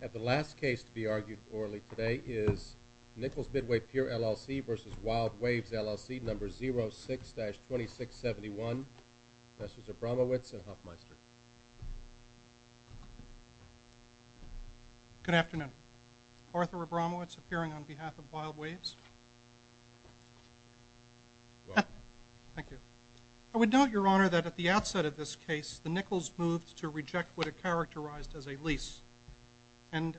LLC v. Wild Waves, LLC, No. 06-2671, Professors Abramowitz and Huffmeister. Good afternoon. Arthur Abramowitz, appearing on behalf of Wild Waves. Welcome. Thank you. I would note, Your Honor, that at the outset of this case, the Nickels moved to reject what it characterized as a lease. And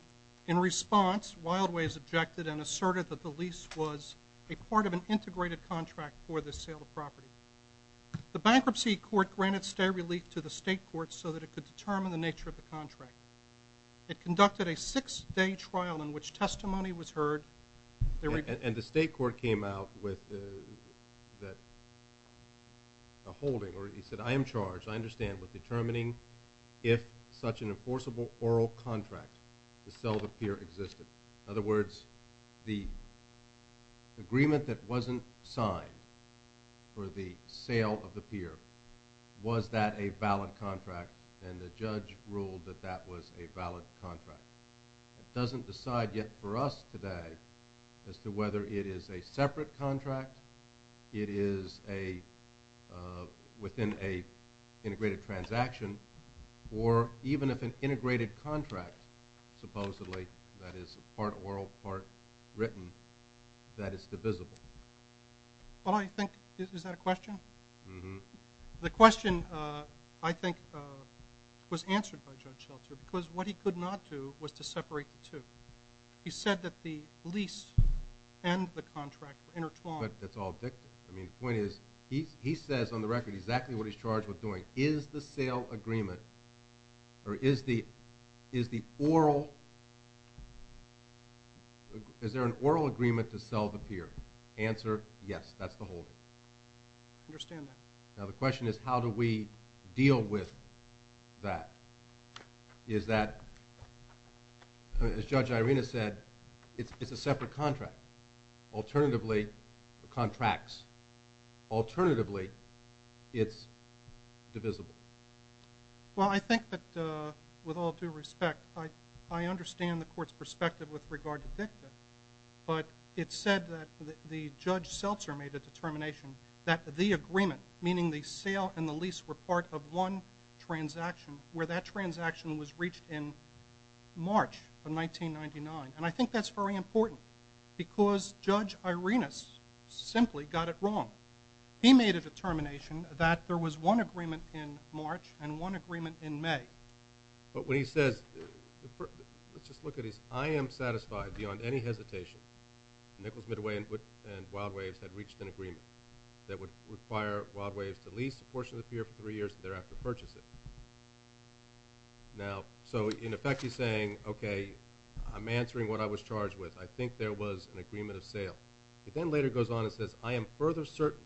in response, Wild Waves objected and asserted that the lease was a part of an integrated contract for the sale of property. The bankruptcy court granted stay relief to the state court so that it could determine the nature of the contract. It conducted a six-day trial in which testimony was heard. And the state court came out with a holding, or he said, I am charged, I understand, with determining if such an enforceable oral contract to sell the pier existed. In other words, the agreement that wasn't signed for the sale of the pier, was that a valid contract? And the judge ruled that that was a valid contract. It doesn't decide yet for us today as to whether it is a separate contract, it is a, within a integrated transaction, or even if an integrated contract, supposedly, that is part oral, part written, that is divisible. Well, I think, is that a question? The question, I think, was answered by Judge Shelter, because what he could not do was to separate the two. He said that the lease and the contract were intertwined. But that's all dictated. I mean, the point is, he says on the record exactly what he's charged with doing. Is the sale agreement, or is the oral, is there an oral agreement to sell the pier? Answer, yes, that's the holding. I understand that. Now, the question is, how do we deal with that? Is that, as Judge Irena said, it's a separate contract. Alternatively, contracts. Alternatively, it's divisible. Well, I think that, with all due respect, I understand the court's perspective with regard to Victor, but it's said that the Judge Shelter made a determination that the agreement, meaning the sale and the lease were part of one transaction, where that transaction was reached in March of 1999. And I think that's very important, because Judge Irena simply got it wrong. He made a determination that there was one agreement in March and one agreement in May. But when he says, let's just look at this, I am satisfied beyond any hesitation that Nichols Midway and Wild Waves had reached an agreement that would require Wild Waves to lease a portion of the pier for three years and thereafter purchase it. Now, so in effect he's saying, okay, I'm answering what I was charged with. I think there was an agreement of sale. He then later goes on and says, I am further certain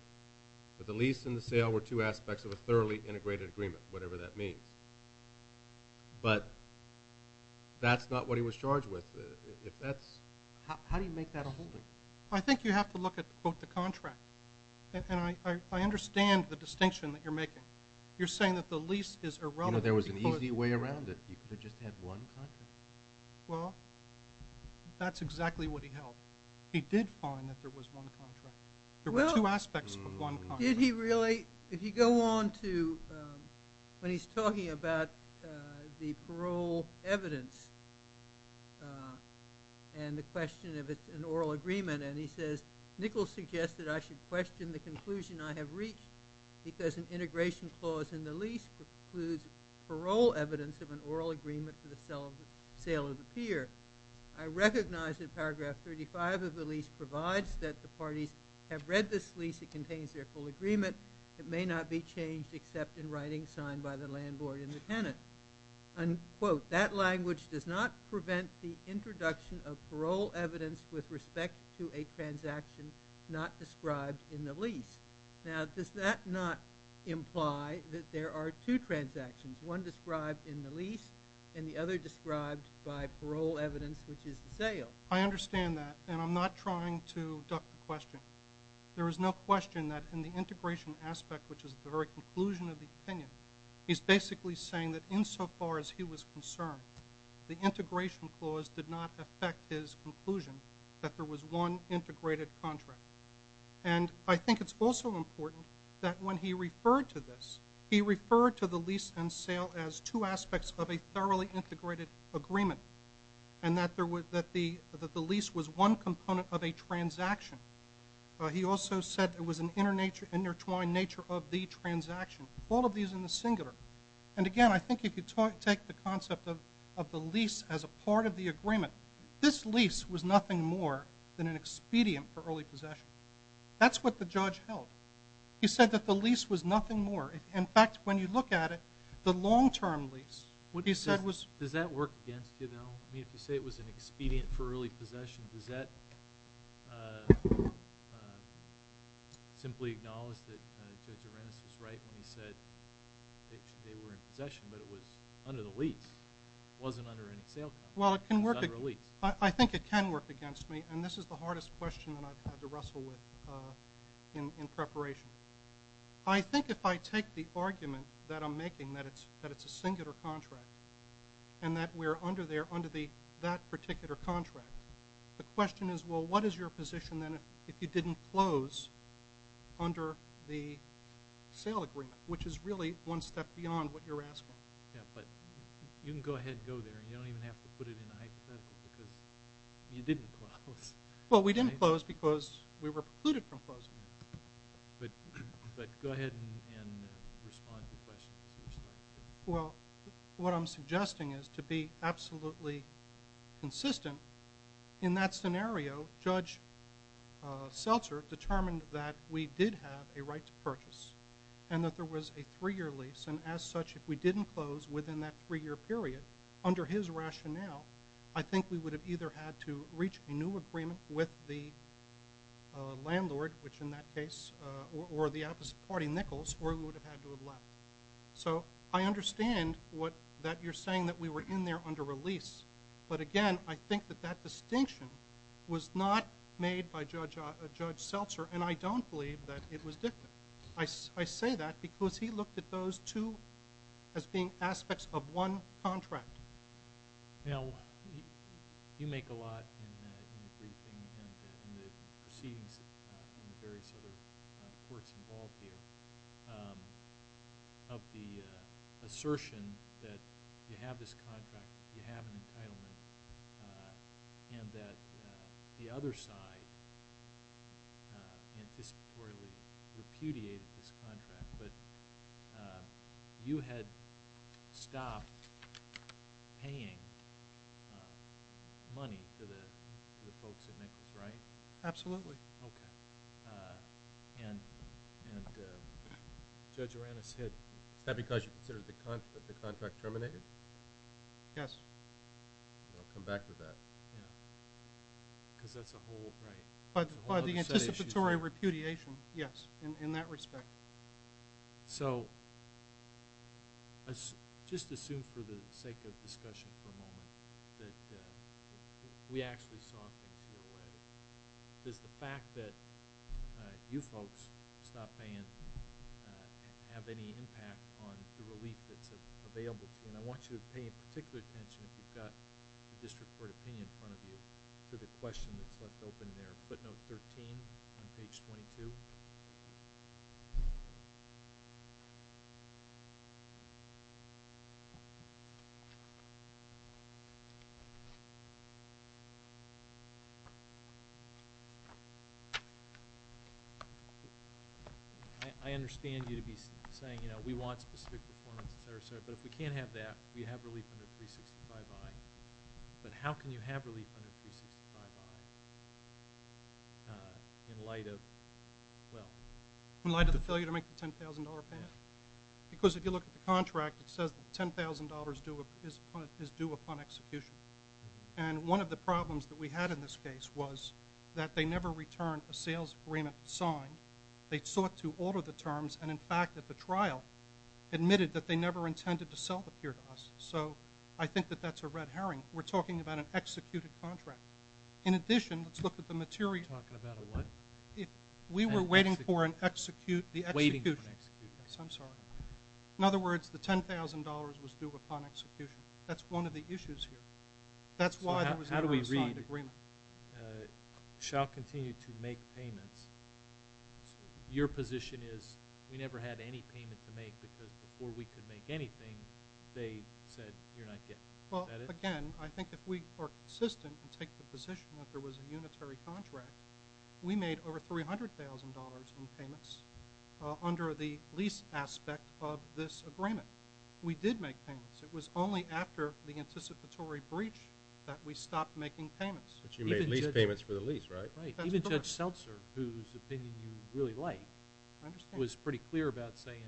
that the lease and the sale were two aspects of a thoroughly integrated agreement, whatever that means. But that's not what he was charged with. If that's... How do you make that a holding? I think you have to look at both the contracts. And I understand the distinction that you're making. You're saying that the lease is irrelevant because... You know, there was an easy way around it. He could have just had one contract. Well, that's exactly what he held. He did find that there was one contract. Well... There were two aspects of one contract. Did he really... If you go on to... When he's talking about the parole evidence and the question if it's an oral agreement and he says, Nichols suggested I should question the conclusion I have reached because an integration clause in the lease includes parole evidence of an oral agreement to the sale of the pier. I recognize that paragraph 35 of the lease provides that the parties have read this lease. It contains their full agreement. It may not be changed except in writing signed by the landlord and the tenant. Unquote. That language does not prevent the introduction of parole evidence with respect to a transaction not described in the lease. Now, does that not imply that there are two transactions, one described in the lease and the other described by parole evidence, which is the sale? I understand that. And I'm not trying to duck the question. There is no question that in the integration aspect, which is the very conclusion of the opinion, he's basically saying that insofar as he was concerned, the integration clause did not affect his conclusion that there was one integrated contract. And I think it's also important that when he referred to this, he referred to the lease and sale as two aspects of a thoroughly integrated agreement. And that the lease was one component of a transaction. He also said it was an intertwined nature of the transaction. All of these in the singular. And again, I think if you take the concept of the lease as a part of the agreement, this lease was nothing more than an expedient for early possession. That's what the judge held. He said that the lease was nothing more. In fact, when you look at it, the long-term lease, what he said was... Does that work against you, though? If you say it was an expedient for early possession, does that simply acknowledge that Judge Arenas is right when he said they were in possession, but it was under the lease. It wasn't under any sale contract. It was under a lease. I think it can work against me. And this is the hardest question that I've had to wrestle with in preparation. I think if I take the argument that I'm making, that it's a singular contract, and that we're under that particular contract, the question is, well, what is your position then if you didn't close under the sale agreement? Which is really one step beyond what you're asking. Yeah, but you can go ahead and go there. You don't even have to put it in hypothetical because you didn't close. Well, we didn't close because we were precluded from closing. But go ahead and respond to the question. Well, what I'm suggesting is to be absolutely consistent, in that scenario, Judge Seltzer determined that we did have a right to purchase, and that there was a three-year lease, and as such, if we didn't close within that three-year period, under his rationale, I think we would have either had to reach a new agreement with the landlord, which in that case, or the opposite So, I understand that you're saying that we were in there under a lease, but again, I think that that distinction was not made by Judge Seltzer, and I don't believe that it was dictated. I say that because he looked at those two as being aspects of one contract. Now, you make a lot in the briefing and the proceedings in the various sorts of courts involved here of the assertion that you have this contract, you have an entitlement, and that the other side anticipatorily repudiated this contract, but you had stopped paying money to the folks at Nichols, right? Absolutely. Okay. And Judge Uranus said, is that because you considered that the contract terminated? Yes. I'll come back to that. Yeah. Because that's a whole other set of issues. But the anticipatory repudiation, yes, in that respect. So, just assume for the sake of discussion for a moment that we actually saw things your way. Does the fact that you folks stopped paying have any impact on the relief that's available to you? And I want you to pay particular attention if you've got the district court opinion in front of you to the question that's left open there, footnote 13 on page 22. I understand you to be saying, you know, we want specific performance, et cetera, et cetera. But how can you have relief under 365I in light of, well? In light of the failure to make the $10,000 payment? Yeah. Because if you look at the contract, it says that $10,000 is due upon execution. And one of the problems that we had in this case was that they never returned a sales agreement signed. They sought to alter the terms, and in fact, at the trial, admitted that they never intended to sell it here to us. So, I think that that's a red herring. We're talking about an executed contract. In addition, let's look at the material. You're talking about a what? We were waiting for an execute, the execution. Waiting for an execution. Yes, I'm sorry. In other words, the $10,000 was due upon execution. That's one of the issues here. That's why there was never a signed agreement. So, how do we read, shall continue to make payments? Your position is, we never had any payment to make, because before we could make anything, they said, you're not getting it. Is that it? Well, again, I think if we are consistent and take the position that there was a unitary contract, we made over $300,000 in payments under the lease aspect of this agreement. We did make payments. It was only after the anticipatory breach that we stopped making payments. But you made lease payments for the lease, right? Right. That's correct. you really like. I understand. It was pretty clear about saying,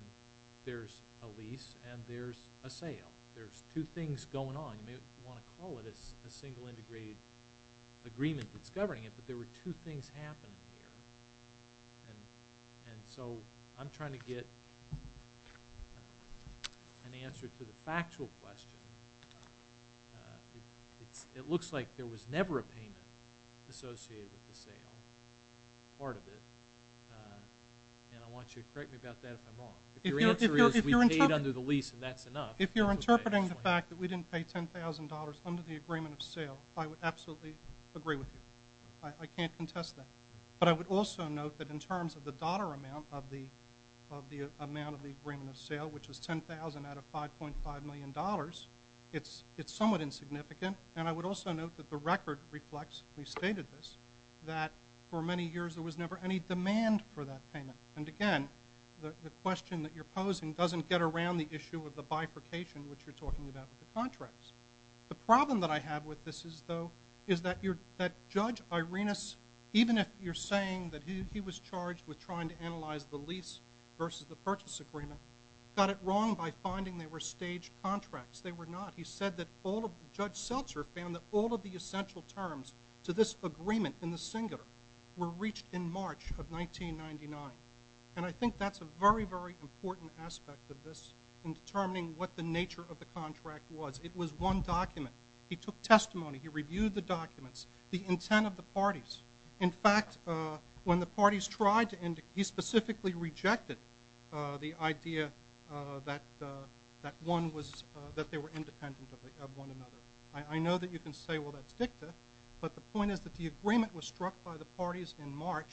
there's a lease and there's a sale. There's two things going on. You may want to call it a single integrated agreement that's governing it, but there were two things happening here. And so, I'm trying to get an answer to the part of it. And I want you to correct me about that if I'm wrong. If your answer is, we paid under the lease and that's enough. If you're interpreting the fact that we didn't pay $10,000 under the agreement of sale, I would absolutely agree with you. I can't contest that. But I would also note that in terms of the dollar amount of the amount of the agreement of sale, which was $10,000 out of $5.5 million, it's somewhat insignificant. And I would also note that the record reflects, we stated this, that for many years there was never any demand for that payment. And again, the question that you're posing doesn't get around the issue of the bifurcation which you're talking about with the contracts. The problem that I have with this is though, is that Judge Irenas, even if you're saying that he was charged with trying to analyze the lease versus the purchase agreement, got it wrong by finding they were staged contracts. They were not. He said that all of, Judge Irenas' objections to this agreement in the singular were reached in March of 1999. And I think that's a very, very important aspect of this in determining what the nature of the contract was. It was one document. He took testimony. He reviewed the documents, the intent of the parties. In fact, when the parties tried to indicate, he specifically rejected the idea that one was, that they were independent of one another. I know that you can say, well, that's dicta. But the point is that the agreement was struck by the parties in March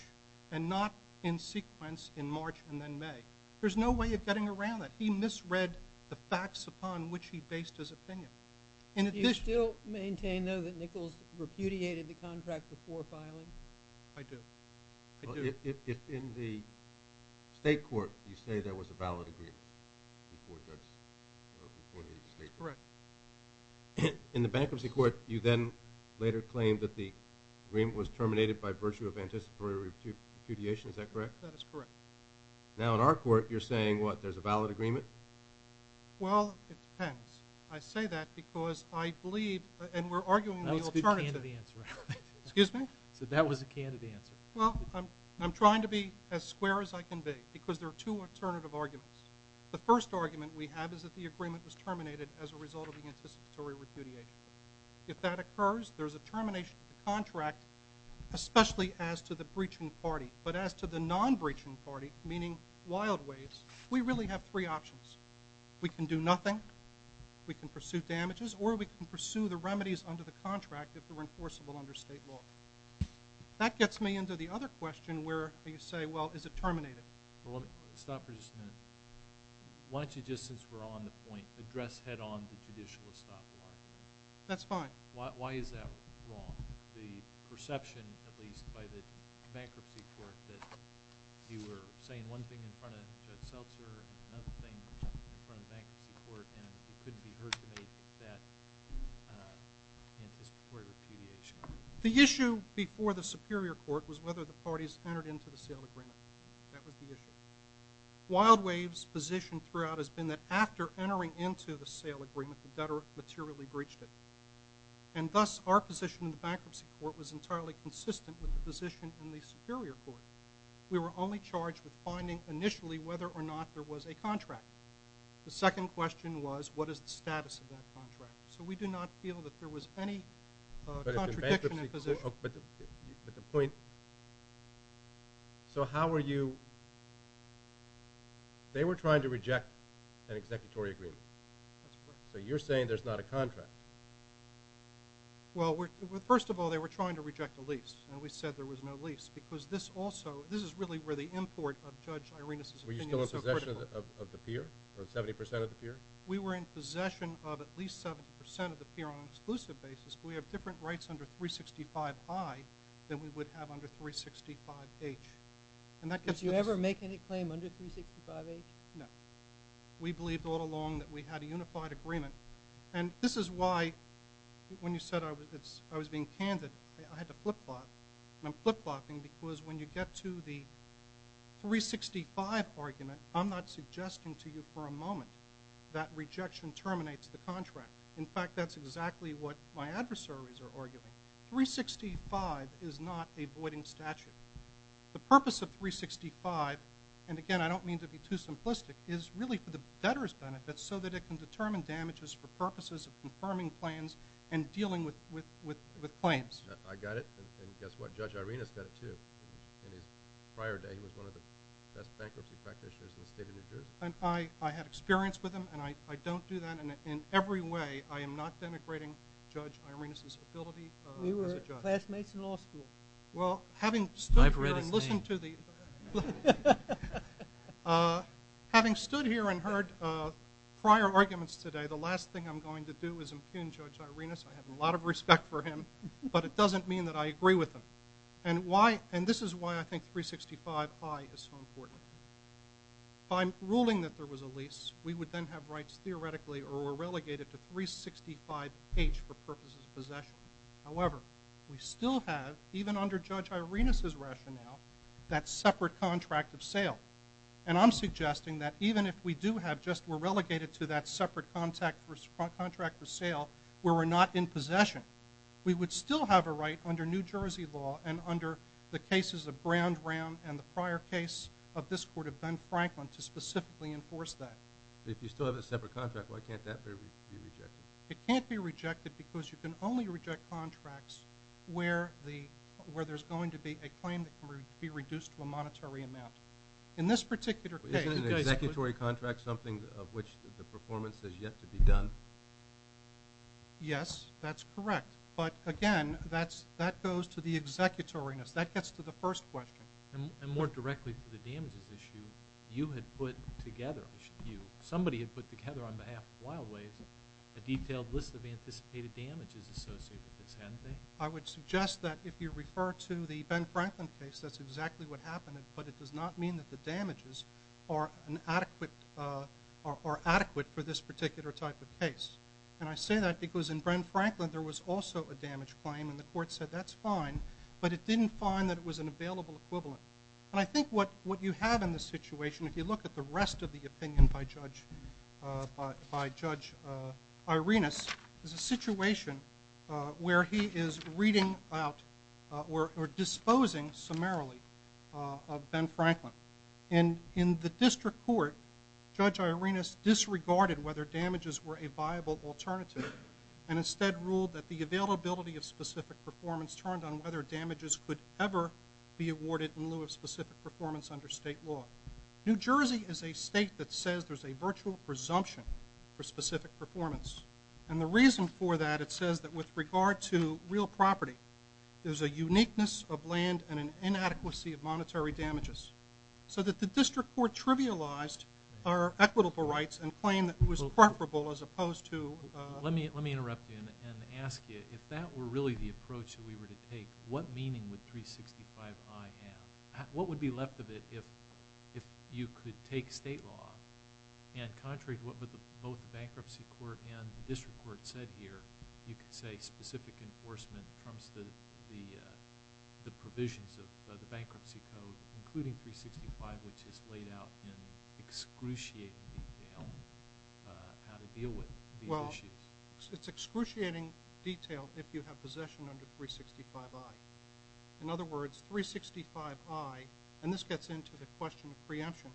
and not in sequence in March and then May. There's no way of getting around that. He misread the facts upon which he based his opinion. Do you still maintain though that Nichols repudiated the contract before filing? I do. I do. Well, if in the state court you say there was a valid agreement before Judge, before the state court. Correct. In the bankruptcy court, you then later claimed that the agreement was terminated by virtue of anticipatory repudiation. Is that correct? That is correct. Now in our court, you're saying, what, there's a valid agreement? Well, it depends. I say that because I believe, and we're arguing the alternative. That was a can of the answer. Excuse me? That was a can of the answer. Well, I'm trying to be as square as I can be because there are two alternative arguments. The first argument we have is that the agreement was terminated as a result of the anticipatory repudiation. If that occurs, there's a termination of the contract, especially as to the breaching party. But as to the non-breaching party, meaning wild ways, we really have three options. We can do nothing, we can pursue damages, or we can pursue the remedies under the contract if they're enforceable under state law. That gets me into the other question where you say, well, is it terminated? Stop for just a minute. Why don't you, just since we're on the point, address head-on the judicial establishment? That's fine. Why is that wrong? The perception, at least by the bankruptcy court, that you were saying one thing in front of Judge Seltzer and another thing in front of the bankruptcy court, and it couldn't be heard to make that anticipatory repudiation. The issue before the Superior Court was whether the parties entered into the sealed agreement. That was the issue. Wild Waves' position throughout has been that after entering into the sealed agreement, the debtor materially breached it. And thus, our position in the bankruptcy court was entirely consistent with the position in the Superior Court. We were only charged with finding initially whether or not there was a contract. The second question was, what is the status of that contract? So we do not feel that there was any contradiction in position. But the point, so how were you, they were trying to reject an executory agreement. That's correct. So you're saying there's not a contract. Well, first of all, they were trying to reject a lease, and we said there was no lease. Because this also, this is really where the import of Judge Irena's opinion is so critical. Were you still in possession of the peer, or 70% of the peer? We were in possession of at least 70% of the peer on an exclusive basis. We have different rights under 365I than we would have under 365H. Did you ever make any claim under 365H? No. We believed all along that we had a unified agreement. And this is why, when you said I was being candid, I had to flip-flop. And I'm flip-flopping because when you get to the 365 argument, I'm not suggesting to you for a moment that rejection terminates the contract. In fact, that's exactly what my adversaries are arguing. 365 is not a voiding statute. The purpose of 365, and again, I don't mean to be too simplistic, is really for the debtor's benefit so that it can determine damages for purposes of confirming plans and dealing with claims. I got it. And guess what? Judge Irena said it, too. In his prior day, he was one of the best bankruptcy practitioners in the state of New Jersey. I had experience with him, and I don't do that. And in every way, I am not denigrating Judge Irena's ability as a judge. We were classmates in law school. Well, having stood here and listened to the – I've read his name. Having stood here and heard prior arguments today, the last thing I'm going to do is impugn Judge Irena. I have a lot of respect for him, but it doesn't mean that I agree with him. And this is why I think 365I is so important. If I'm ruling that there was a lease, we would then have rights theoretically or were relegated to 365H for purposes of possession. However, we still have, even under Judge Irena's rationale, that separate contract of sale. And I'm suggesting that even if we do have just – we're relegated to that separate contract for sale where we're not in possession, we would still have a right under New Jersey law and under the cases of Brandram and the prior case of this court of Ben Franklin to specifically enforce that. If you still have a separate contract, why can't that be rejected? It can't be rejected because you can only reject contracts where there's going to be a claim that can be reduced to a monetary amount. In this particular case – Isn't an executory contract something of which the performance is yet to be done? Yes, that's correct. But, again, that goes to the executoriness. That gets to the first question. And more directly to the damages issue, you had put together – somebody had put together on behalf of Wild Ways a detailed list of anticipated damages associated with this, hadn't they? I would suggest that if you refer to the Ben Franklin case, that's exactly what happened, but it does not mean that the damages are adequate for this particular type of case. And I say that because in Ben Franklin there was also a damage claim, and the court said that's fine, but it didn't find that it was an available equivalent. And I think what you have in this situation, if you look at the rest of the opinion by Judge Irenas, is a situation where he is reading out or disposing summarily of Ben Franklin. And in the district court, Judge Irenas disregarded whether damages were a viable alternative and instead ruled that the availability of specific performance turned on whether damages could ever be awarded in lieu of specific performance under state law. New Jersey is a state that says there's a virtual presumption for specific performance. And the reason for that, it says that with regard to real property, there's a uniqueness of land and an inadequacy of monetary damages. So that the district court trivialized our equitable rights and claimed that it was comparable as opposed to... Let me interrupt you and ask you, if that were really the approach that we were to take, what meaning would 365i have? What would be left of it if you could take state law and contrary to what both the bankruptcy court and the district court said here, you could say specific enforcement in terms of the provisions of the bankruptcy code, including 365, which is laid out in excruciating detail on how to deal with these issues. Well, it's excruciating detail if you have possession under 365i. In other words, 365i, and this gets into the question of preemption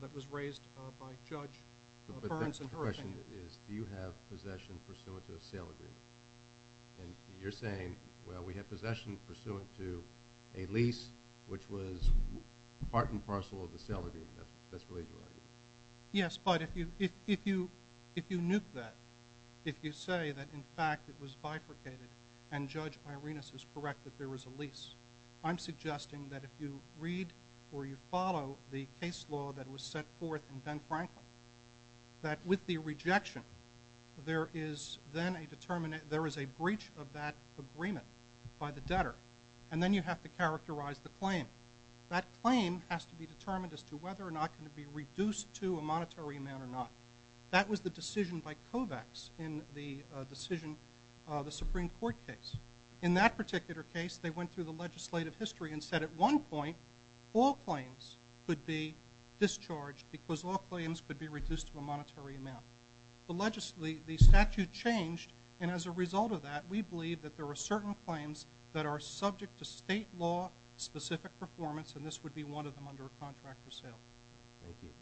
that was raised by Judge Burns and Herring. But the question is, do you have possession pursuant to a sale agreement? And you're saying, well, we have possession pursuant to a lease, which was part and parcel of the sale agreement. That's what you're arguing. Yes, but if you nuke that, if you say that in fact it was bifurcated and Judge Irenas is correct that there was a lease, I'm suggesting that if you read or you follow the case law that was set forth in Ben Franklin, that with the rejection there is then a breach of that agreement by the debtor. And then you have to characterize the claim. That claim has to be determined as to whether or not it can be reduced to a monetary amount or not. That was the decision by COVEX in the Supreme Court case. In that particular case, they went through the legislative history and said at one point all claims could be discharged because all claims could be reduced to a monetary amount. The statute changed, and as a result of that, we believe that there are certain claims that are subject to state law-specific performance, and this would be one of them under a contract for sale. Thank you.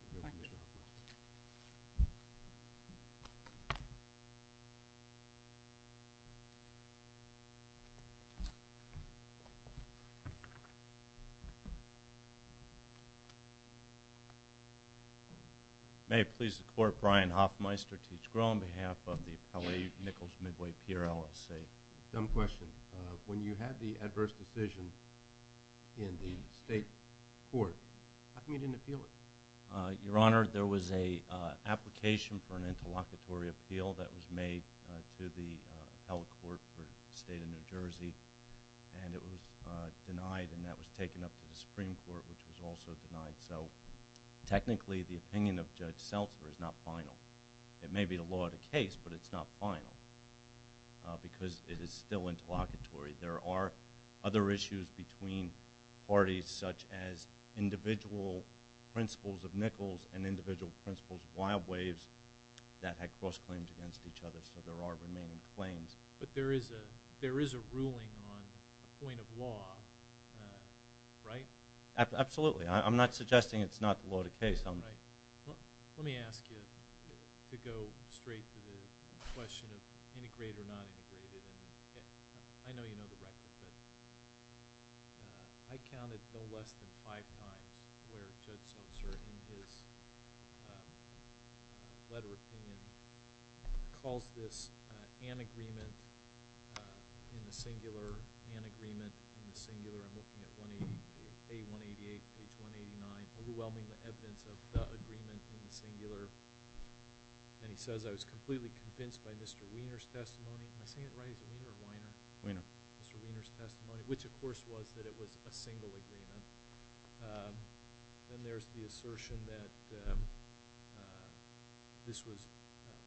May it please the Court, Brian Hoffmeister, Teach-Groh, on behalf of the Appellate Nichols Midway Peer LSA. Some question. When you had the adverse decision in the state court, how come you didn't appeal it? Your Honor, there was an application for an interlocutory appeal that was made to the appellate court for the state of New Jersey, and it was denied and that was taken up to the Supreme Court, which was also denied. So technically the opinion of Judge Seltzer is not final. It may be the law of the case, but it's not final because it is still interlocutory. There are other issues between parties, such as individual principles of Nichols and individual principles of Wild Waves that had cross-claims against each other, so there are remaining claims. But there is a ruling on a point of law, right? Absolutely. I'm not suggesting it's not the law of the case. Let me ask you to go straight to the question of integrate or not integrate. I know you know the record, but I counted no less than five times where Judge Seltzer in his letter of opinion calls this an agreement in the singular, an agreement in the singular. I'm looking at A188, page 189. Overwhelming evidence of the agreement in the singular. And he says, I was completely convinced by Mr. Wiener's testimony. Am I saying it right? Is it Wiener or Weiner? Wiener. Mr. Wiener's testimony, which of course was that it was a single agreement. And there's the assertion that this was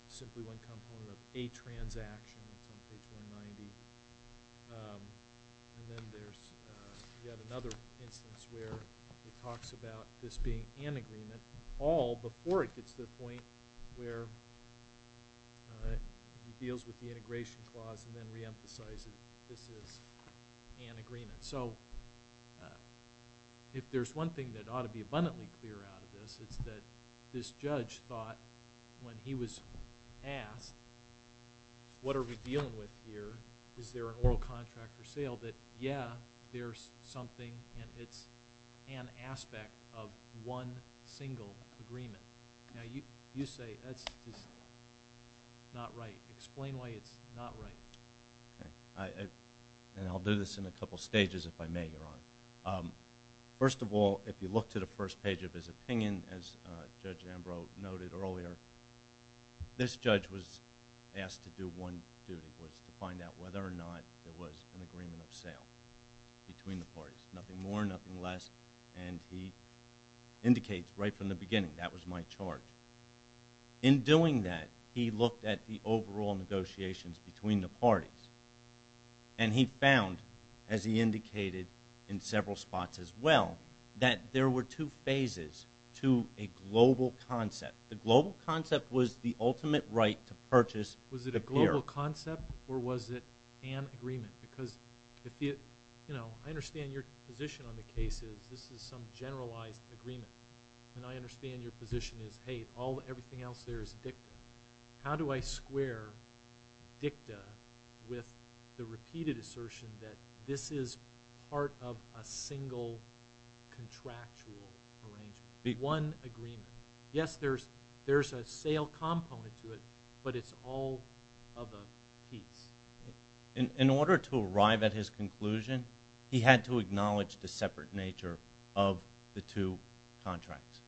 simply one component of a transaction, page 190. And then there's yet another instance where he talks about this being an agreement, all before it gets to the point where he deals with the integration clause and then reemphasizes this is an agreement. So if there's one thing that ought to be abundantly clear out of this, it's that this judge thought when he was asked, what are we dealing with here? Is there an oral contract for sale? That, yeah, there's something and it's an aspect of one single agreement. Now you say that's not right. Explain why it's not right. And I'll do this in a couple stages if I may, Your Honor. First of all, if you look to the first page of his opinion, as Judge Ambrose noted earlier, this judge was asked to do one duty, was to find out whether or not there was an agreement of sale between the parties. Nothing more, nothing less, and he indicates right from the beginning, that was my charge. In doing that, he looked at the overall negotiations between the parties and he found, as he indicated in several spots as well, that there were two phases to a global concept. The global concept was the ultimate right to purchase the beer. Was it a global concept or was it an agreement? Because I understand your position on the case is this is some generalized agreement and I understand your position is, hey, everything else there is dicta. How do I square dicta with the repeated assertion that this is part of a single contractual arrangement, one agreement? Yes, there's a sale component to it, but it's all of a piece. In order to arrive at his conclusion, he had to acknowledge the separate nature of the two contracts.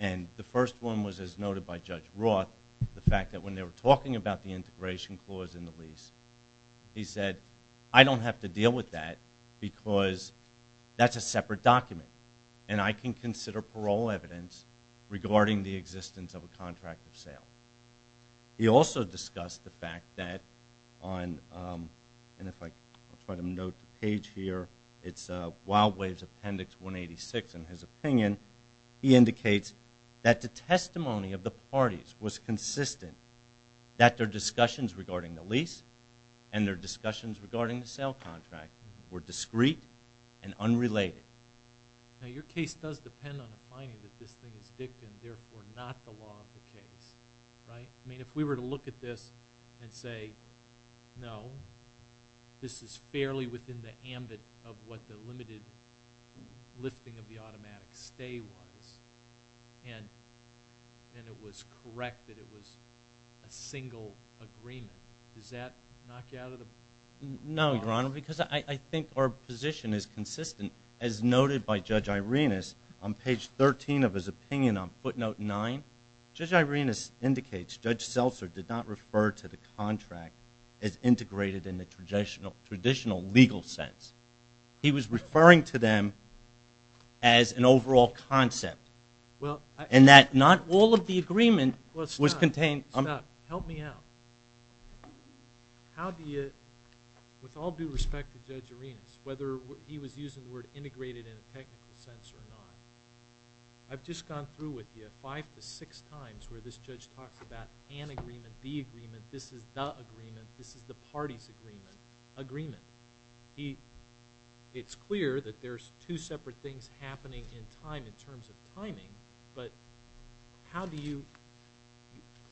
The first one was, as noted by Judge Roth, the fact that when they were talking about the integration clause in the lease, he said, I don't have to deal with that because that's a separate document and I can consider parole evidence regarding the existence of a contract of sale. He also discussed the fact that on, and if I try to note the page here, it's Wild Waves Appendix 186 in his opinion, he indicates that the testimony of the parties was consistent that their discussions regarding the lease and their discussions regarding the sale contract were discreet and unrelated. Now, your case does depend on the finding that this thing is dicta and therefore not the law of the case, right? I mean, if we were to look at this and say, no, this is fairly within the ambit of what the limited lifting of the automatic stay was and it was correct that it was a single agreement, does that knock you out of the bar? No, Your Honor, because I think our position is consistent. As noted by Judge Irenas on page 13 of his opinion on footnote 9, Judge Irenas indicates Judge Seltzer did not refer to the contract as integrated in the traditional legal sense. He was referring to them as an overall concept and that not all of the agreement was contained. Stop. Help me out. How do you, with all due respect to Judge Irenas, whether he was using the word integrated in a technical sense or not, I've just gone through with you five to six times where this judge talks about an agreement, the agreement, this is the agreement, this is the party's agreement, agreement. It's clear that there's two separate things happening in time in terms of timing, but how do you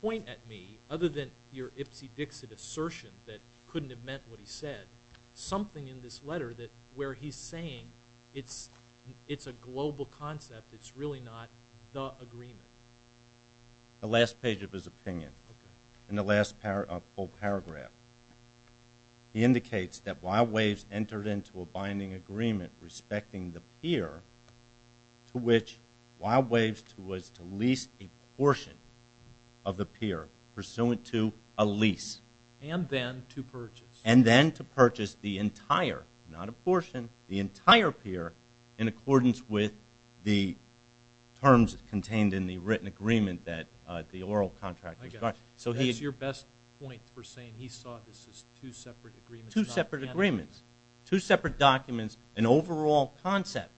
point at me, other than your ipsy-dixit assertion that couldn't have meant what he said, something in this letter where he's saying it's a global concept, it's really not the agreement? The last page of his opinion, in the last full paragraph, he indicates that Wild Waves entered into a binding agreement respecting the peer to which Wild Waves was to lease a portion of the peer pursuant to a lease. And then to purchase. And then to purchase the entire, not a portion, the entire peer in accordance with the terms contained in the written agreement that the oral contract requires. That's your best point for saying he saw this as two separate agreements. Two separate agreements. Two separate documents, an overall concept,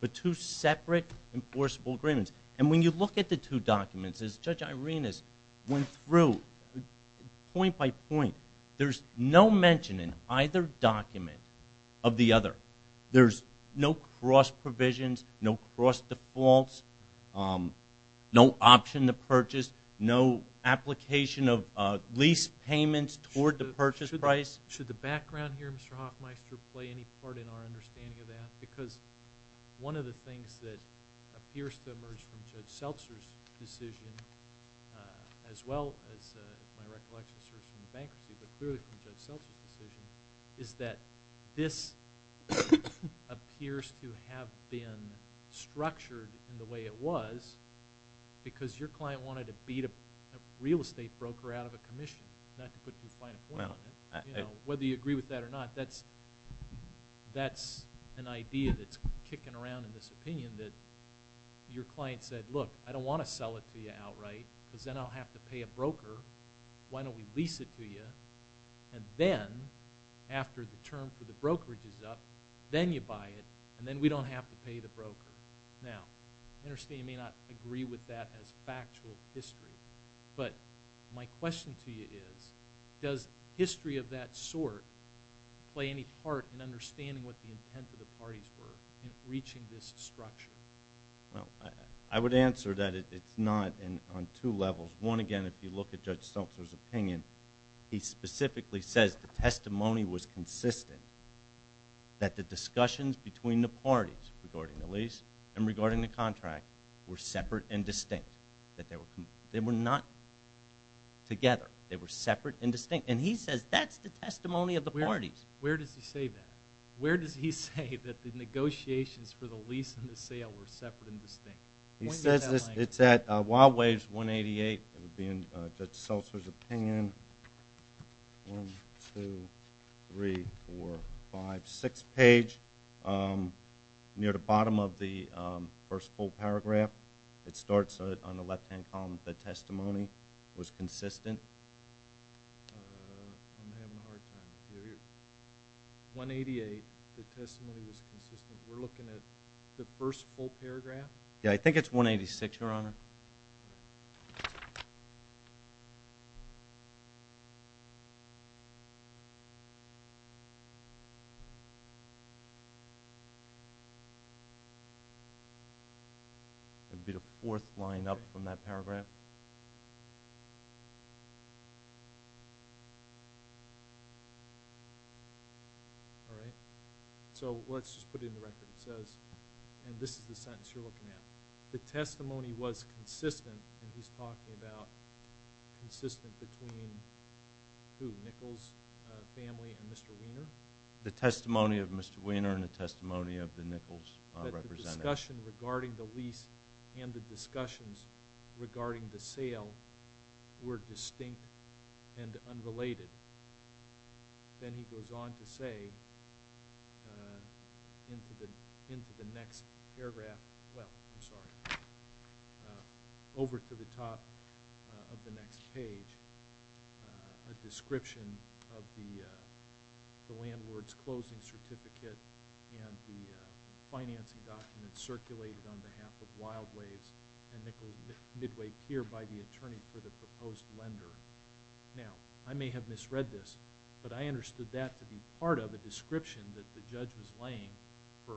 but two separate enforceable agreements. And when you look at the two documents, as Judge Irenas went through, point by point, there's no mention in either document of the other. There's no cross provisions, no cross defaults, no option to purchase, no application of lease payments toward the purchase price. Should the background here, Mr. Hoffmeister, play any part in our understanding of that? Because one of the things that appears to emerge from Judge Seltzer's decision, as well as my recollection from bankruptcy, but clearly from Judge Seltzer's decision, is that this appears to have been structured in the way it was because your client wanted to beat a real estate broker out of a commission, not to put too fine a point on it. Whether you agree with that or not, that's an idea that's kicking around in this opinion that your client said, look, I don't want to sell it to you outright because then I'll have to pay a broker. Why don't we lease it to you? And then, after the term for the brokerage is up, then you buy it and then we don't have to pay the broker. Now, I understand you may not agree with that as factual history, but my question to you is, does history of that sort play any part in understanding what the intent of the parties were in reaching this structure? Well, I would answer that it's not on two levels. One, again, if you look at Judge Seltzer's opinion, he specifically says the testimony was consistent, that the discussions between the parties regarding the lease and regarding the contract were separate and distinct. They were not together. They were separate and distinct. And he says that's the testimony of the parties. Where does he say that? He says that the negotiations for the lease and the sale were separate and distinct. He says it's at Wild Waves 188. It would be in Judge Seltzer's opinion. One, two, three, four, five, six page, near the bottom of the first full paragraph. It starts on the left-hand column. The testimony was consistent. I'm having a hard time here. 188, the testimony was consistent. We're looking at the first full paragraph? Yeah, I think it's 186, Your Honor. It would be the fourth line up from that paragraph. All right. So let's just put it in the record. It says, and this is the sentence you're looking at, the testimony was consistent, and he's talking about consistent between who? Nichols' family and Mr. Weiner? The testimony of Mr. Weiner and the testimony of the Nichols' representative. But the discussion regarding the lease and the discussions regarding the sale were distinct and unrelated. Then he goes on to say, into the next paragraph, well, I'm sorry, over to the top of the next page, a description of the landlord's closing certificate and the financing documents circulated on behalf of Wild Ways and Nichols Midway here by the attorney for the proposed lender. Now, I may have misread this, but I understood that to be part of a description that the judge was laying for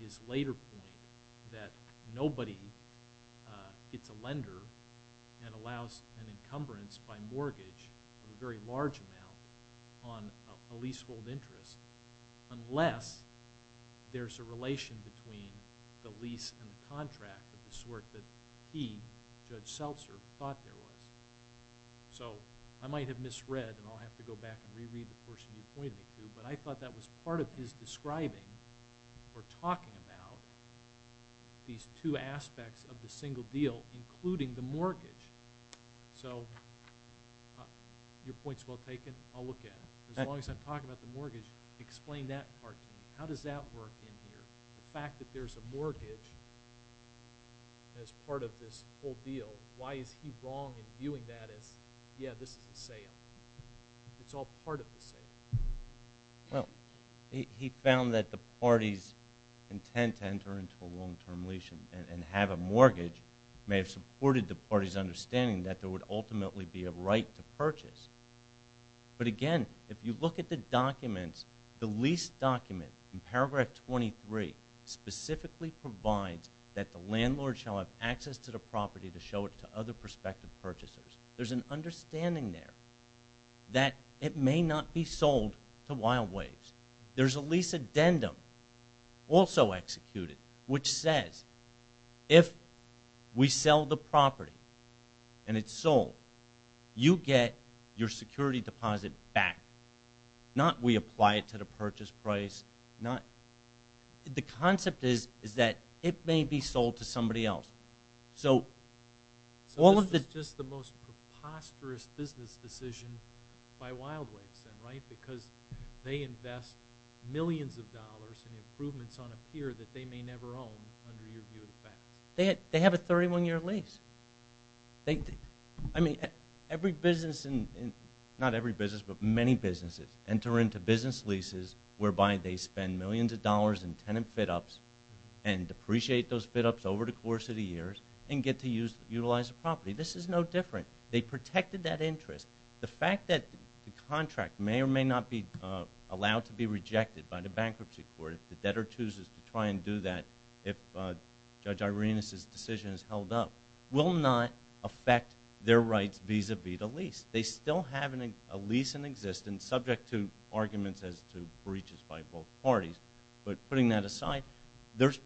his later point that nobody gets a lender and allows an encumbrance by mortgage of a very large amount on a leasehold interest unless there's a relation between the lease and the contract of the sort that he, Judge Seltzer, thought there was. So I might have misread, and I'll have to go back and reread the portion you pointed to, but I thought that was part of his describing or talking about these two aspects of the single deal, including the mortgage. So your point's well taken. I'll look at it. As long as I'm talking about the mortgage, explain that part to me. How does that work in here? The fact that there's a mortgage as part of this whole deal, why is he wrong in viewing that as, yeah, this is a sale? It's all part of the sale. Well, he found that the party's intent to enter into a long-term lease and have a mortgage may have supported the party's understanding that there would ultimately be a right to purchase. But again, if you look at the documents, the lease document in paragraph 23 specifically provides that the landlord shall have access to the property to show it to other prospective purchasers. There's an understanding there that it may not be sold to Wild Waves. There's a lease addendum also executed which says if we sell the property and it's sold, you get your security deposit back. Not we apply it to the purchase price. The concept is that it may be sold to somebody else. So all of the... So this is just the most preposterous business decision by Wild Waves then, right? Because they invest millions of dollars in improvements on a pier that they may never own under your view of the facts. They have a 31-year lease. I mean, every business, not every business, but many businesses enter into business leases whereby they spend millions of dollars in tenant fit-ups and depreciate those fit-ups over the course of the years and get to utilize the property. This is no different. They protected that interest. The fact that the contract may or may not be allowed to be rejected by the bankruptcy court, the debtor chooses to try and do that if Judge Irena's decision is held up, will not affect their rights vis-à-vis the lease. They still have a lease in existence subject to arguments as to breaches by both parties. But putting that aside, there's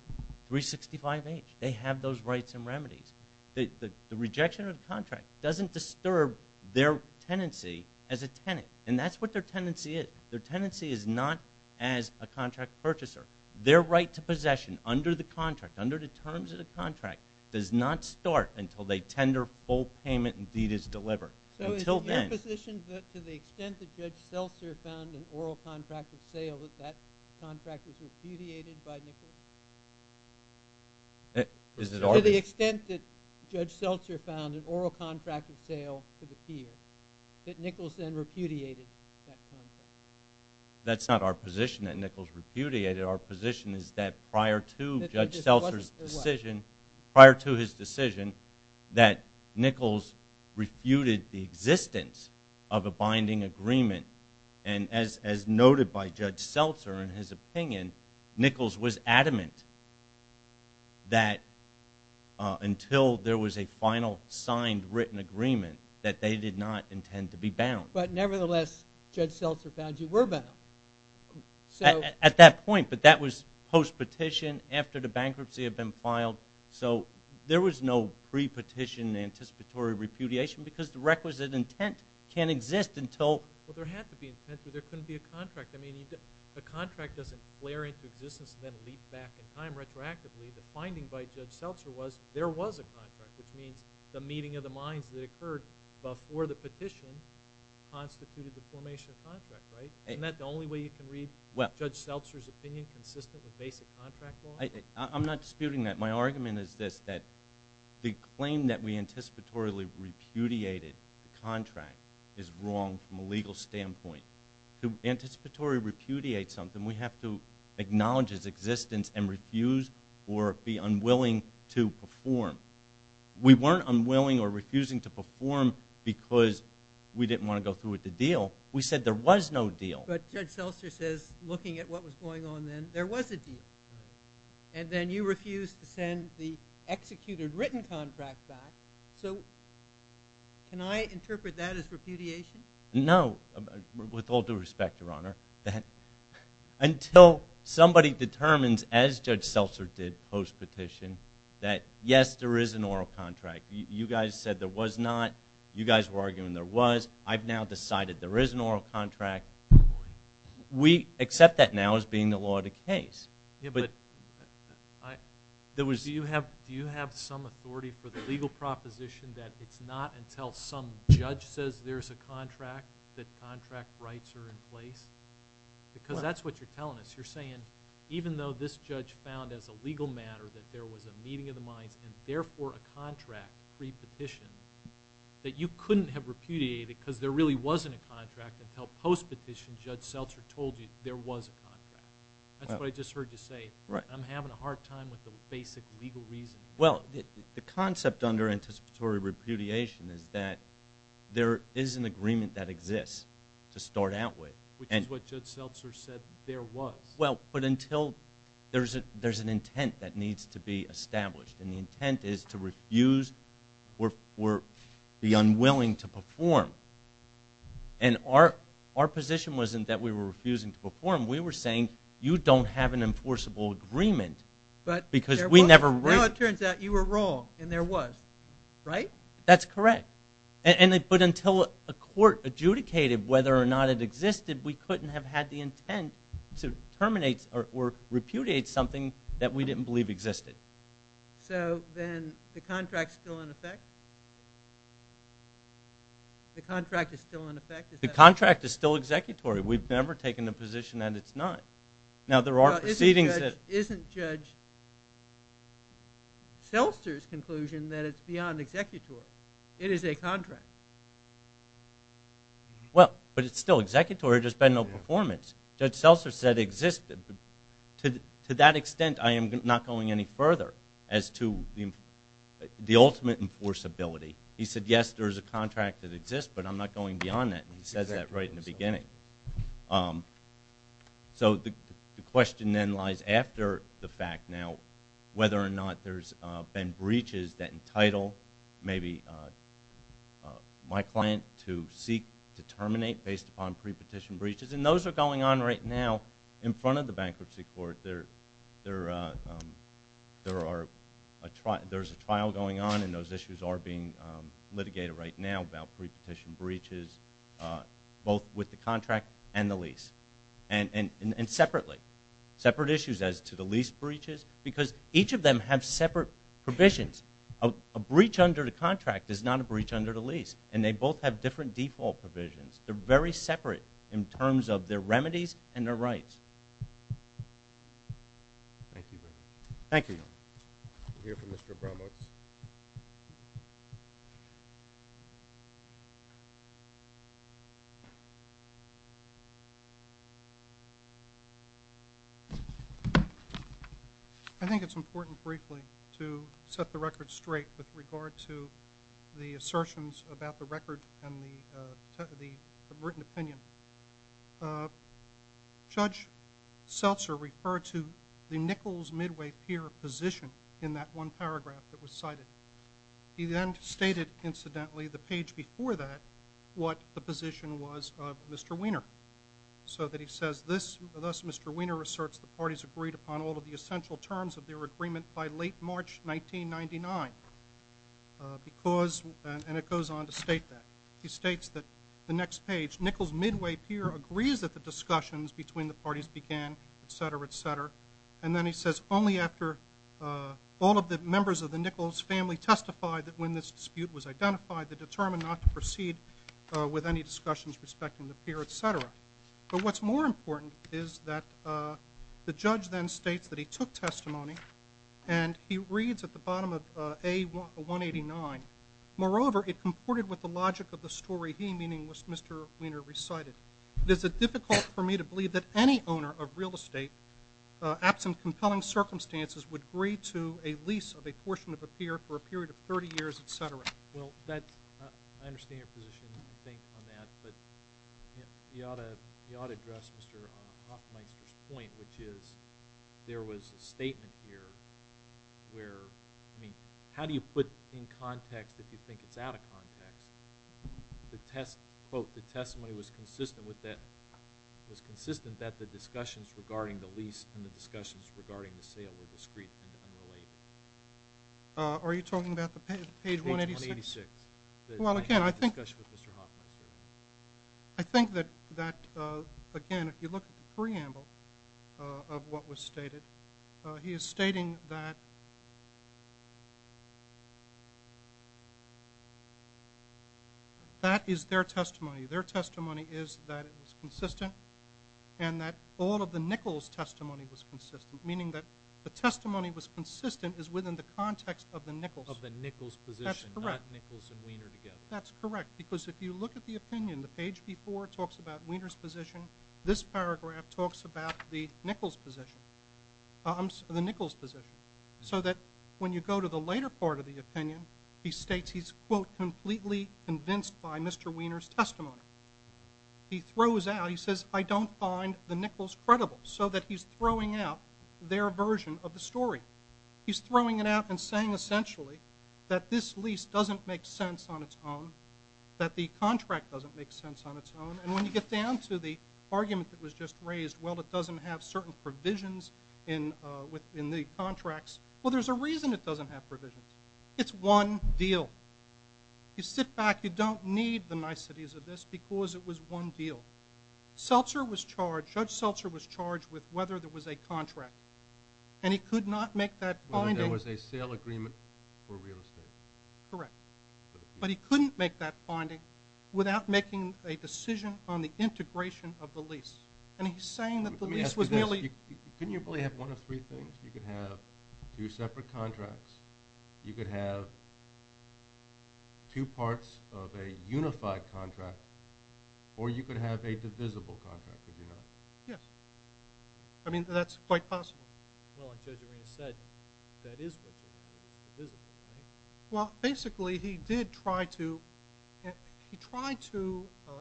365H. They have those rights and remedies. The rejection of the contract doesn't disturb their tenancy as a tenant. And that's what their tenancy is. Their tenancy is not as a contract purchaser. Their right to possession under the contract, under the terms of the contract, does not start until they tender full payment and deed is delivered. Until then. Is it your position that to the extent that Judge Seltzer found an oral contract at sale, that that contract was repudiated by Nichols? Is it our position? To the extent that Judge Seltzer found an oral contract at sale to the pier, that Nichols then repudiated that contract? That's not our position that Nichols repudiated. Our position is that prior to Judge Seltzer's decision, prior to his decision, that Nichols refuted the existence of a binding agreement. And as noted by Judge Seltzer in his opinion, Nichols was adamant that until there was a final signed written agreement, that they did not intend to be bound. But nevertheless, Judge Seltzer found you were bound. At that point. But that was post-petition, after the bankruptcy had been filed. So there was no pre-petition anticipatory repudiation because the requisite intent can't exist until... Well, there had to be intent, or there couldn't be a contract. I mean, a contract doesn't flare into existence and then leap back in time retroactively. The finding by Judge Seltzer was there was a contract, which means the meeting of the minds that occurred before the petition constituted the formation of the contract, right? Isn't that the only way you can read Judge Seltzer's opinion consistent with basic contract law? I'm not disputing that. My argument is this, that the claim that we anticipatorily repudiated the contract is wrong from a legal standpoint. To anticipatory repudiate something, we have to acknowledge its existence and refuse or be unwilling to perform. We weren't unwilling or refusing to perform because we didn't want to go through with the deal. We said there was no deal. But Judge Seltzer says, looking at what was going on then, there was a deal. And then you refused to send the executed written contract back. So can I interpret that as repudiation? No. With all due respect, Your Honor, until somebody determines, as Judge Seltzer did post-petition, that yes, there is an oral contract, you guys said there was not, you guys were arguing there was, I've now decided there is an oral contract. We accept that now as being the law of the case. Do you have some authority for the legal proposition that it's not until some judge says there's a contract that contract rights are in place? Because that's what you're telling us. You're saying even though this judge found as a legal matter that there was a meeting of the minds and therefore a contract pre-petition, that you couldn't have repudiated because there really wasn't a contract until post-petition, Judge Seltzer told you there was a contract. That's what I just heard you say. I'm having a hard time with the basic legal reason. Well, the concept under anticipatory repudiation is that there is an agreement that exists to start out with. Which is what Judge Seltzer said there was. Well, but until there's an intent that needs to be established, and the intent is to refuse or be unwilling to perform. And our position wasn't that we were refusing to perform. We were saying you don't have an enforceable agreement because we never raised it. Now it turns out you were wrong, and there was, right? That's correct. But until a court adjudicated whether or not it existed, we couldn't have had the intent to terminate or repudiate something that we didn't believe existed. So then the contract's still in effect? The contract is still in effect? The contract is still executory. We've never taken the position that it's not. Now there are proceedings that... Isn't Judge Seltzer's conclusion that it's beyond executory? It is a contract. Well, but it's still executory. There's been no performance. Judge Seltzer said it existed. To that extent, I am not going any further as to the ultimate enforceability. He said, yes, there is a contract that exists, but I'm not going beyond that, and he says that right in the beginning. So the question then lies after the fact now whether or not there's been breaches that entitle maybe my client to seek to terminate based upon prepetition breaches, and those are going on right now in front of the bankruptcy court. There's a trial going on, and those issues are being litigated right now about prepetition breaches, both with the contract and the lease, and separately. Separate issues as to the lease breaches because each of them have separate provisions. A breach under the contract is not a breach under the lease, and they both have different default provisions. They're very separate in terms of their remedies and their rights. Thank you very much. Thank you. We'll hear from Mr. Abramowitz. I think it's important briefly to set the record straight with regard to the assertions about the record and the written opinion. Judge Seltzer referred to the Nichols Midway Pier position in that one paragraph that was cited. He then stated, incidentally, the page before that, what the position was of Mr. Wiener, so that he says, thus Mr. Wiener asserts the parties agreed upon all of the essential terms of their agreement by late March 1999, and it goes on to state that. He states that the next page, Nichols Midway Pier agrees that the discussions between the parties began, et cetera, et cetera, and then he says, only after all of the members of the Nichols family testified that when this dispute was identified, they determined not to proceed with any discussions respecting the pier, et cetera. But what's more important is that the judge then states that he took testimony and he reads at the bottom of A189, moreover, it comported with the logic of the story he, meaning Mr. Wiener, recited. It is difficult for me to believe that any owner of real estate, absent compelling circumstances, would agree to a lease of a portion of a pier for a period of 30 years, et cetera. Well, I understand your position on that, but you ought to address Mr. Hoffmeister's point, which is there was a statement here where, I mean, how do you put in context if you think it's out of context? The test, quote, the testimony was consistent with that, was consistent that the discussions regarding the lease and the discussions regarding the sale were discrete and unrelated. Are you talking about the page 186? Page 186. Well, again, I think. I think that, again, if you look at the preamble of what was stated, he is stating that that is their testimony. Their testimony is that it was consistent and that all of the Nichols' testimony was consistent, meaning that the testimony was consistent is within the context of the Nichols. Of the Nichols' position, not Nichols and Wiener together. I think that's correct because if you look at the opinion, the page before talks about Wiener's position. This paragraph talks about the Nichols' position, so that when you go to the later part of the opinion, he states he's, quote, completely convinced by Mr. Wiener's testimony. He throws out, he says, I don't find the Nichols' credible, so that he's throwing out their version of the story. He's throwing it out and saying essentially that this lease doesn't make sense on its own, that the contract doesn't make sense on its own, and when you get down to the argument that was just raised, well, it doesn't have certain provisions in the contracts. Well, there's a reason it doesn't have provisions. It's one deal. You sit back. You don't need the niceties of this because it was one deal. Seltzer was charged. Judge Seltzer was charged with whether there was a contract, and he could not make that finding. There was a sale agreement for real estate. Correct. But he couldn't make that finding without making a decision on the integration of the lease, and he's saying that the lease was nearly... Let me ask you this. Couldn't you probably have one of three things? You could have two separate contracts. You could have two parts of a unified contract, or you could have a divisible contract, if you like. Yes. I mean, that's quite possible. Well, like Judge Arena said, that is what the divisible is. Well, basically, he did try to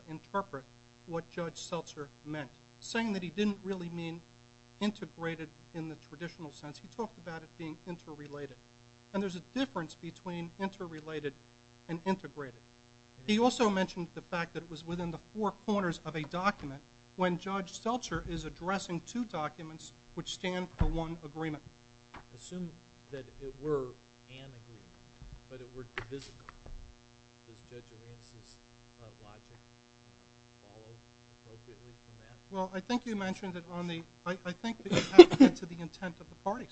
interpret what Judge Seltzer meant, saying that he didn't really mean integrated in the traditional sense. He talked about it being interrelated, and there's a difference between interrelated and integrated. He also mentioned the fact that it was within the four corners of a document when Judge Seltzer is addressing two documents which stand for one agreement. Assume that it were an agreement, but it were divisible. Does Judge Arenas' logic follow appropriately from that? Well, I think you mentioned it on the... I think that you have to get to the intent of the parties.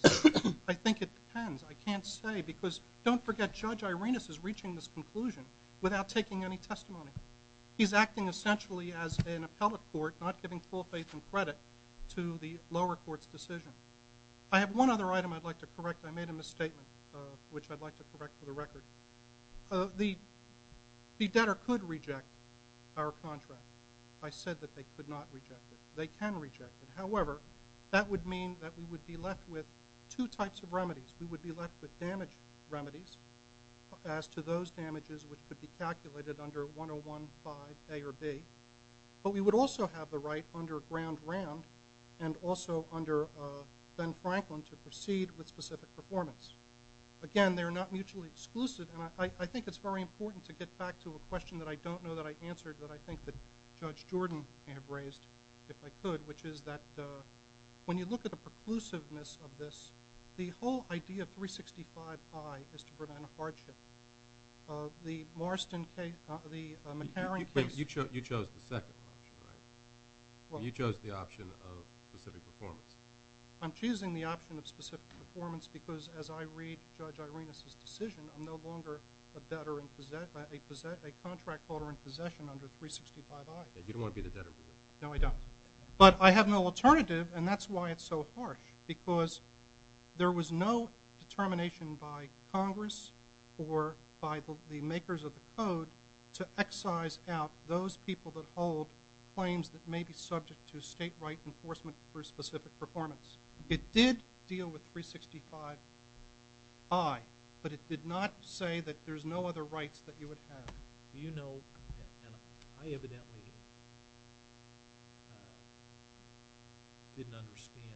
I think it depends. I can't say, because don't forget, Judge Arenas is reaching this conclusion without taking any testimony. He's acting essentially as an appellate court, not giving full faith and credit to the lower court's decision. I have one other item I'd like to correct. I made a misstatement, which I'd like to correct for the record. The debtor could reject our contract. I said that they could not reject it. They can reject it. However, that would mean that we would be left with two types of remedies. We would be left with damage remedies as to those damages which could be calculated under 101.5 A or B. But we would also have the right under Grand Ram and also under Ben Franklin to proceed with specific performance. Again, they are not mutually exclusive, and I think it's very important to get back to a question that I don't know that I answered that I think that Judge Jordan may have raised, if I could, which is that when you look at the preclusiveness of this, the whole idea of 365I is to prevent a hardship. The McCarran case— You chose the second option, right? You chose the option of specific performance. I'm choosing the option of specific performance because as I read Judge Irena's decision, I'm no longer a contract holder in possession under 365I. You don't want to be the debtor, do you? No, I don't. But I have no alternative, and that's why it's so harsh because there was no determination by Congress or by the makers of the code to excise out those people that hold claims that may be subject to state-right enforcement for specific performance. It did deal with 365I, but it did not say that there's no other rights that you would have. Do you know—and I evidently didn't understand—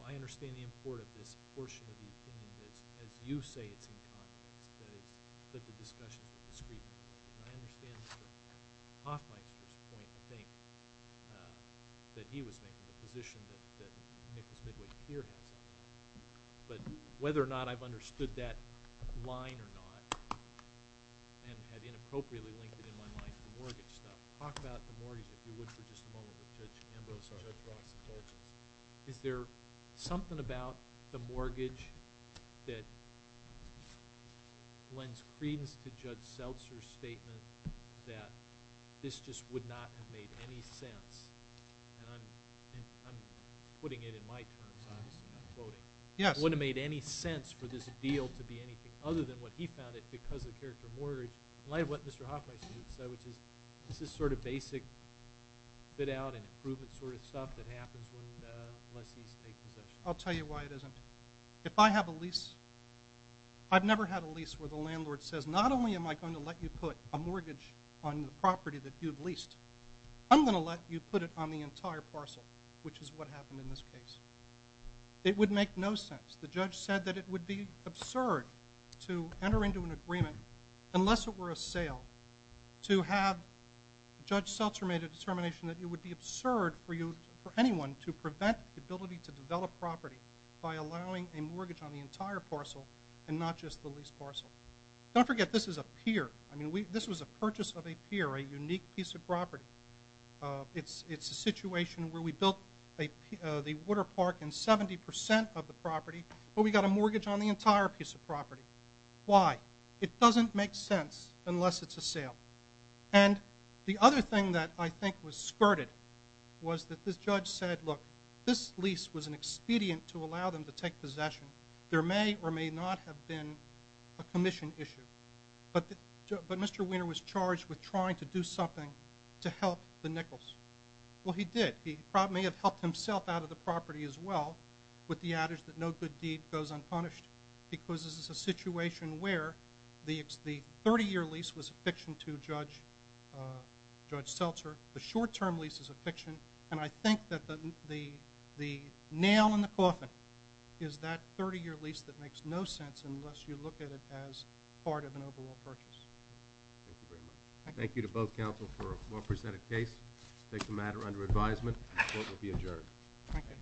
I understand the importance of this portion of the opinion as you say it's in Congress, but the discussion is discreet. I understand Mr. Hoffmeister's point, I think, that he was making the position that Nicholas Midway here has. But whether or not I've understood that line or not and had inappropriately linked it in my mind to mortgage stuff— talk about the mortgage, if you would, for just a moment, with Judge Ambrose or Judge Ross. Is there something about the mortgage that lends credence to Judge Seltzer's statement that this just would not have made any sense? And I'm putting it in my terms, obviously. I'm quoting. It wouldn't have made any sense for this deal to be anything other than what he found it because of the character of mortgage, in light of what Mr. Hoffmeister said, which is this is sort of basic fit-out and improvement sort of stuff that happens when lessees take possession. I'll tell you why it isn't. If I have a lease—I've never had a lease where the landlord says, I'm going to let you put it on the entire parcel, which is what happened in this case. It would make no sense. The judge said that it would be absurd to enter into an agreement, unless it were a sale, to have Judge Seltzer make a determination that it would be absurd for anyone to prevent the ability to develop property by allowing a mortgage on the entire parcel and not just the lease parcel. Don't forget, this is a pier. It's a situation where we built the water park and 70% of the property, but we got a mortgage on the entire piece of property. Why? It doesn't make sense unless it's a sale. And the other thing that I think was skirted was that this judge said, look, this lease was an expedient to allow them to take possession. There may or may not have been a commission issue. But Mr. Weiner was charged with trying to do something to help the Nichols. Well, he did. He probably may have helped himself out of the property as well with the adage that no good deed goes unpunished, because this is a situation where the 30-year lease was a fiction to Judge Seltzer. The short-term lease is a fiction, and I think that the nail in the coffin is that 30-year lease that makes no sense unless you look at it as part of an overall purchase. Thank you very much. Thank you to both counsel for a well-presented case. Take the matter under advisement. The court will be adjourned. Thank you. Thank you.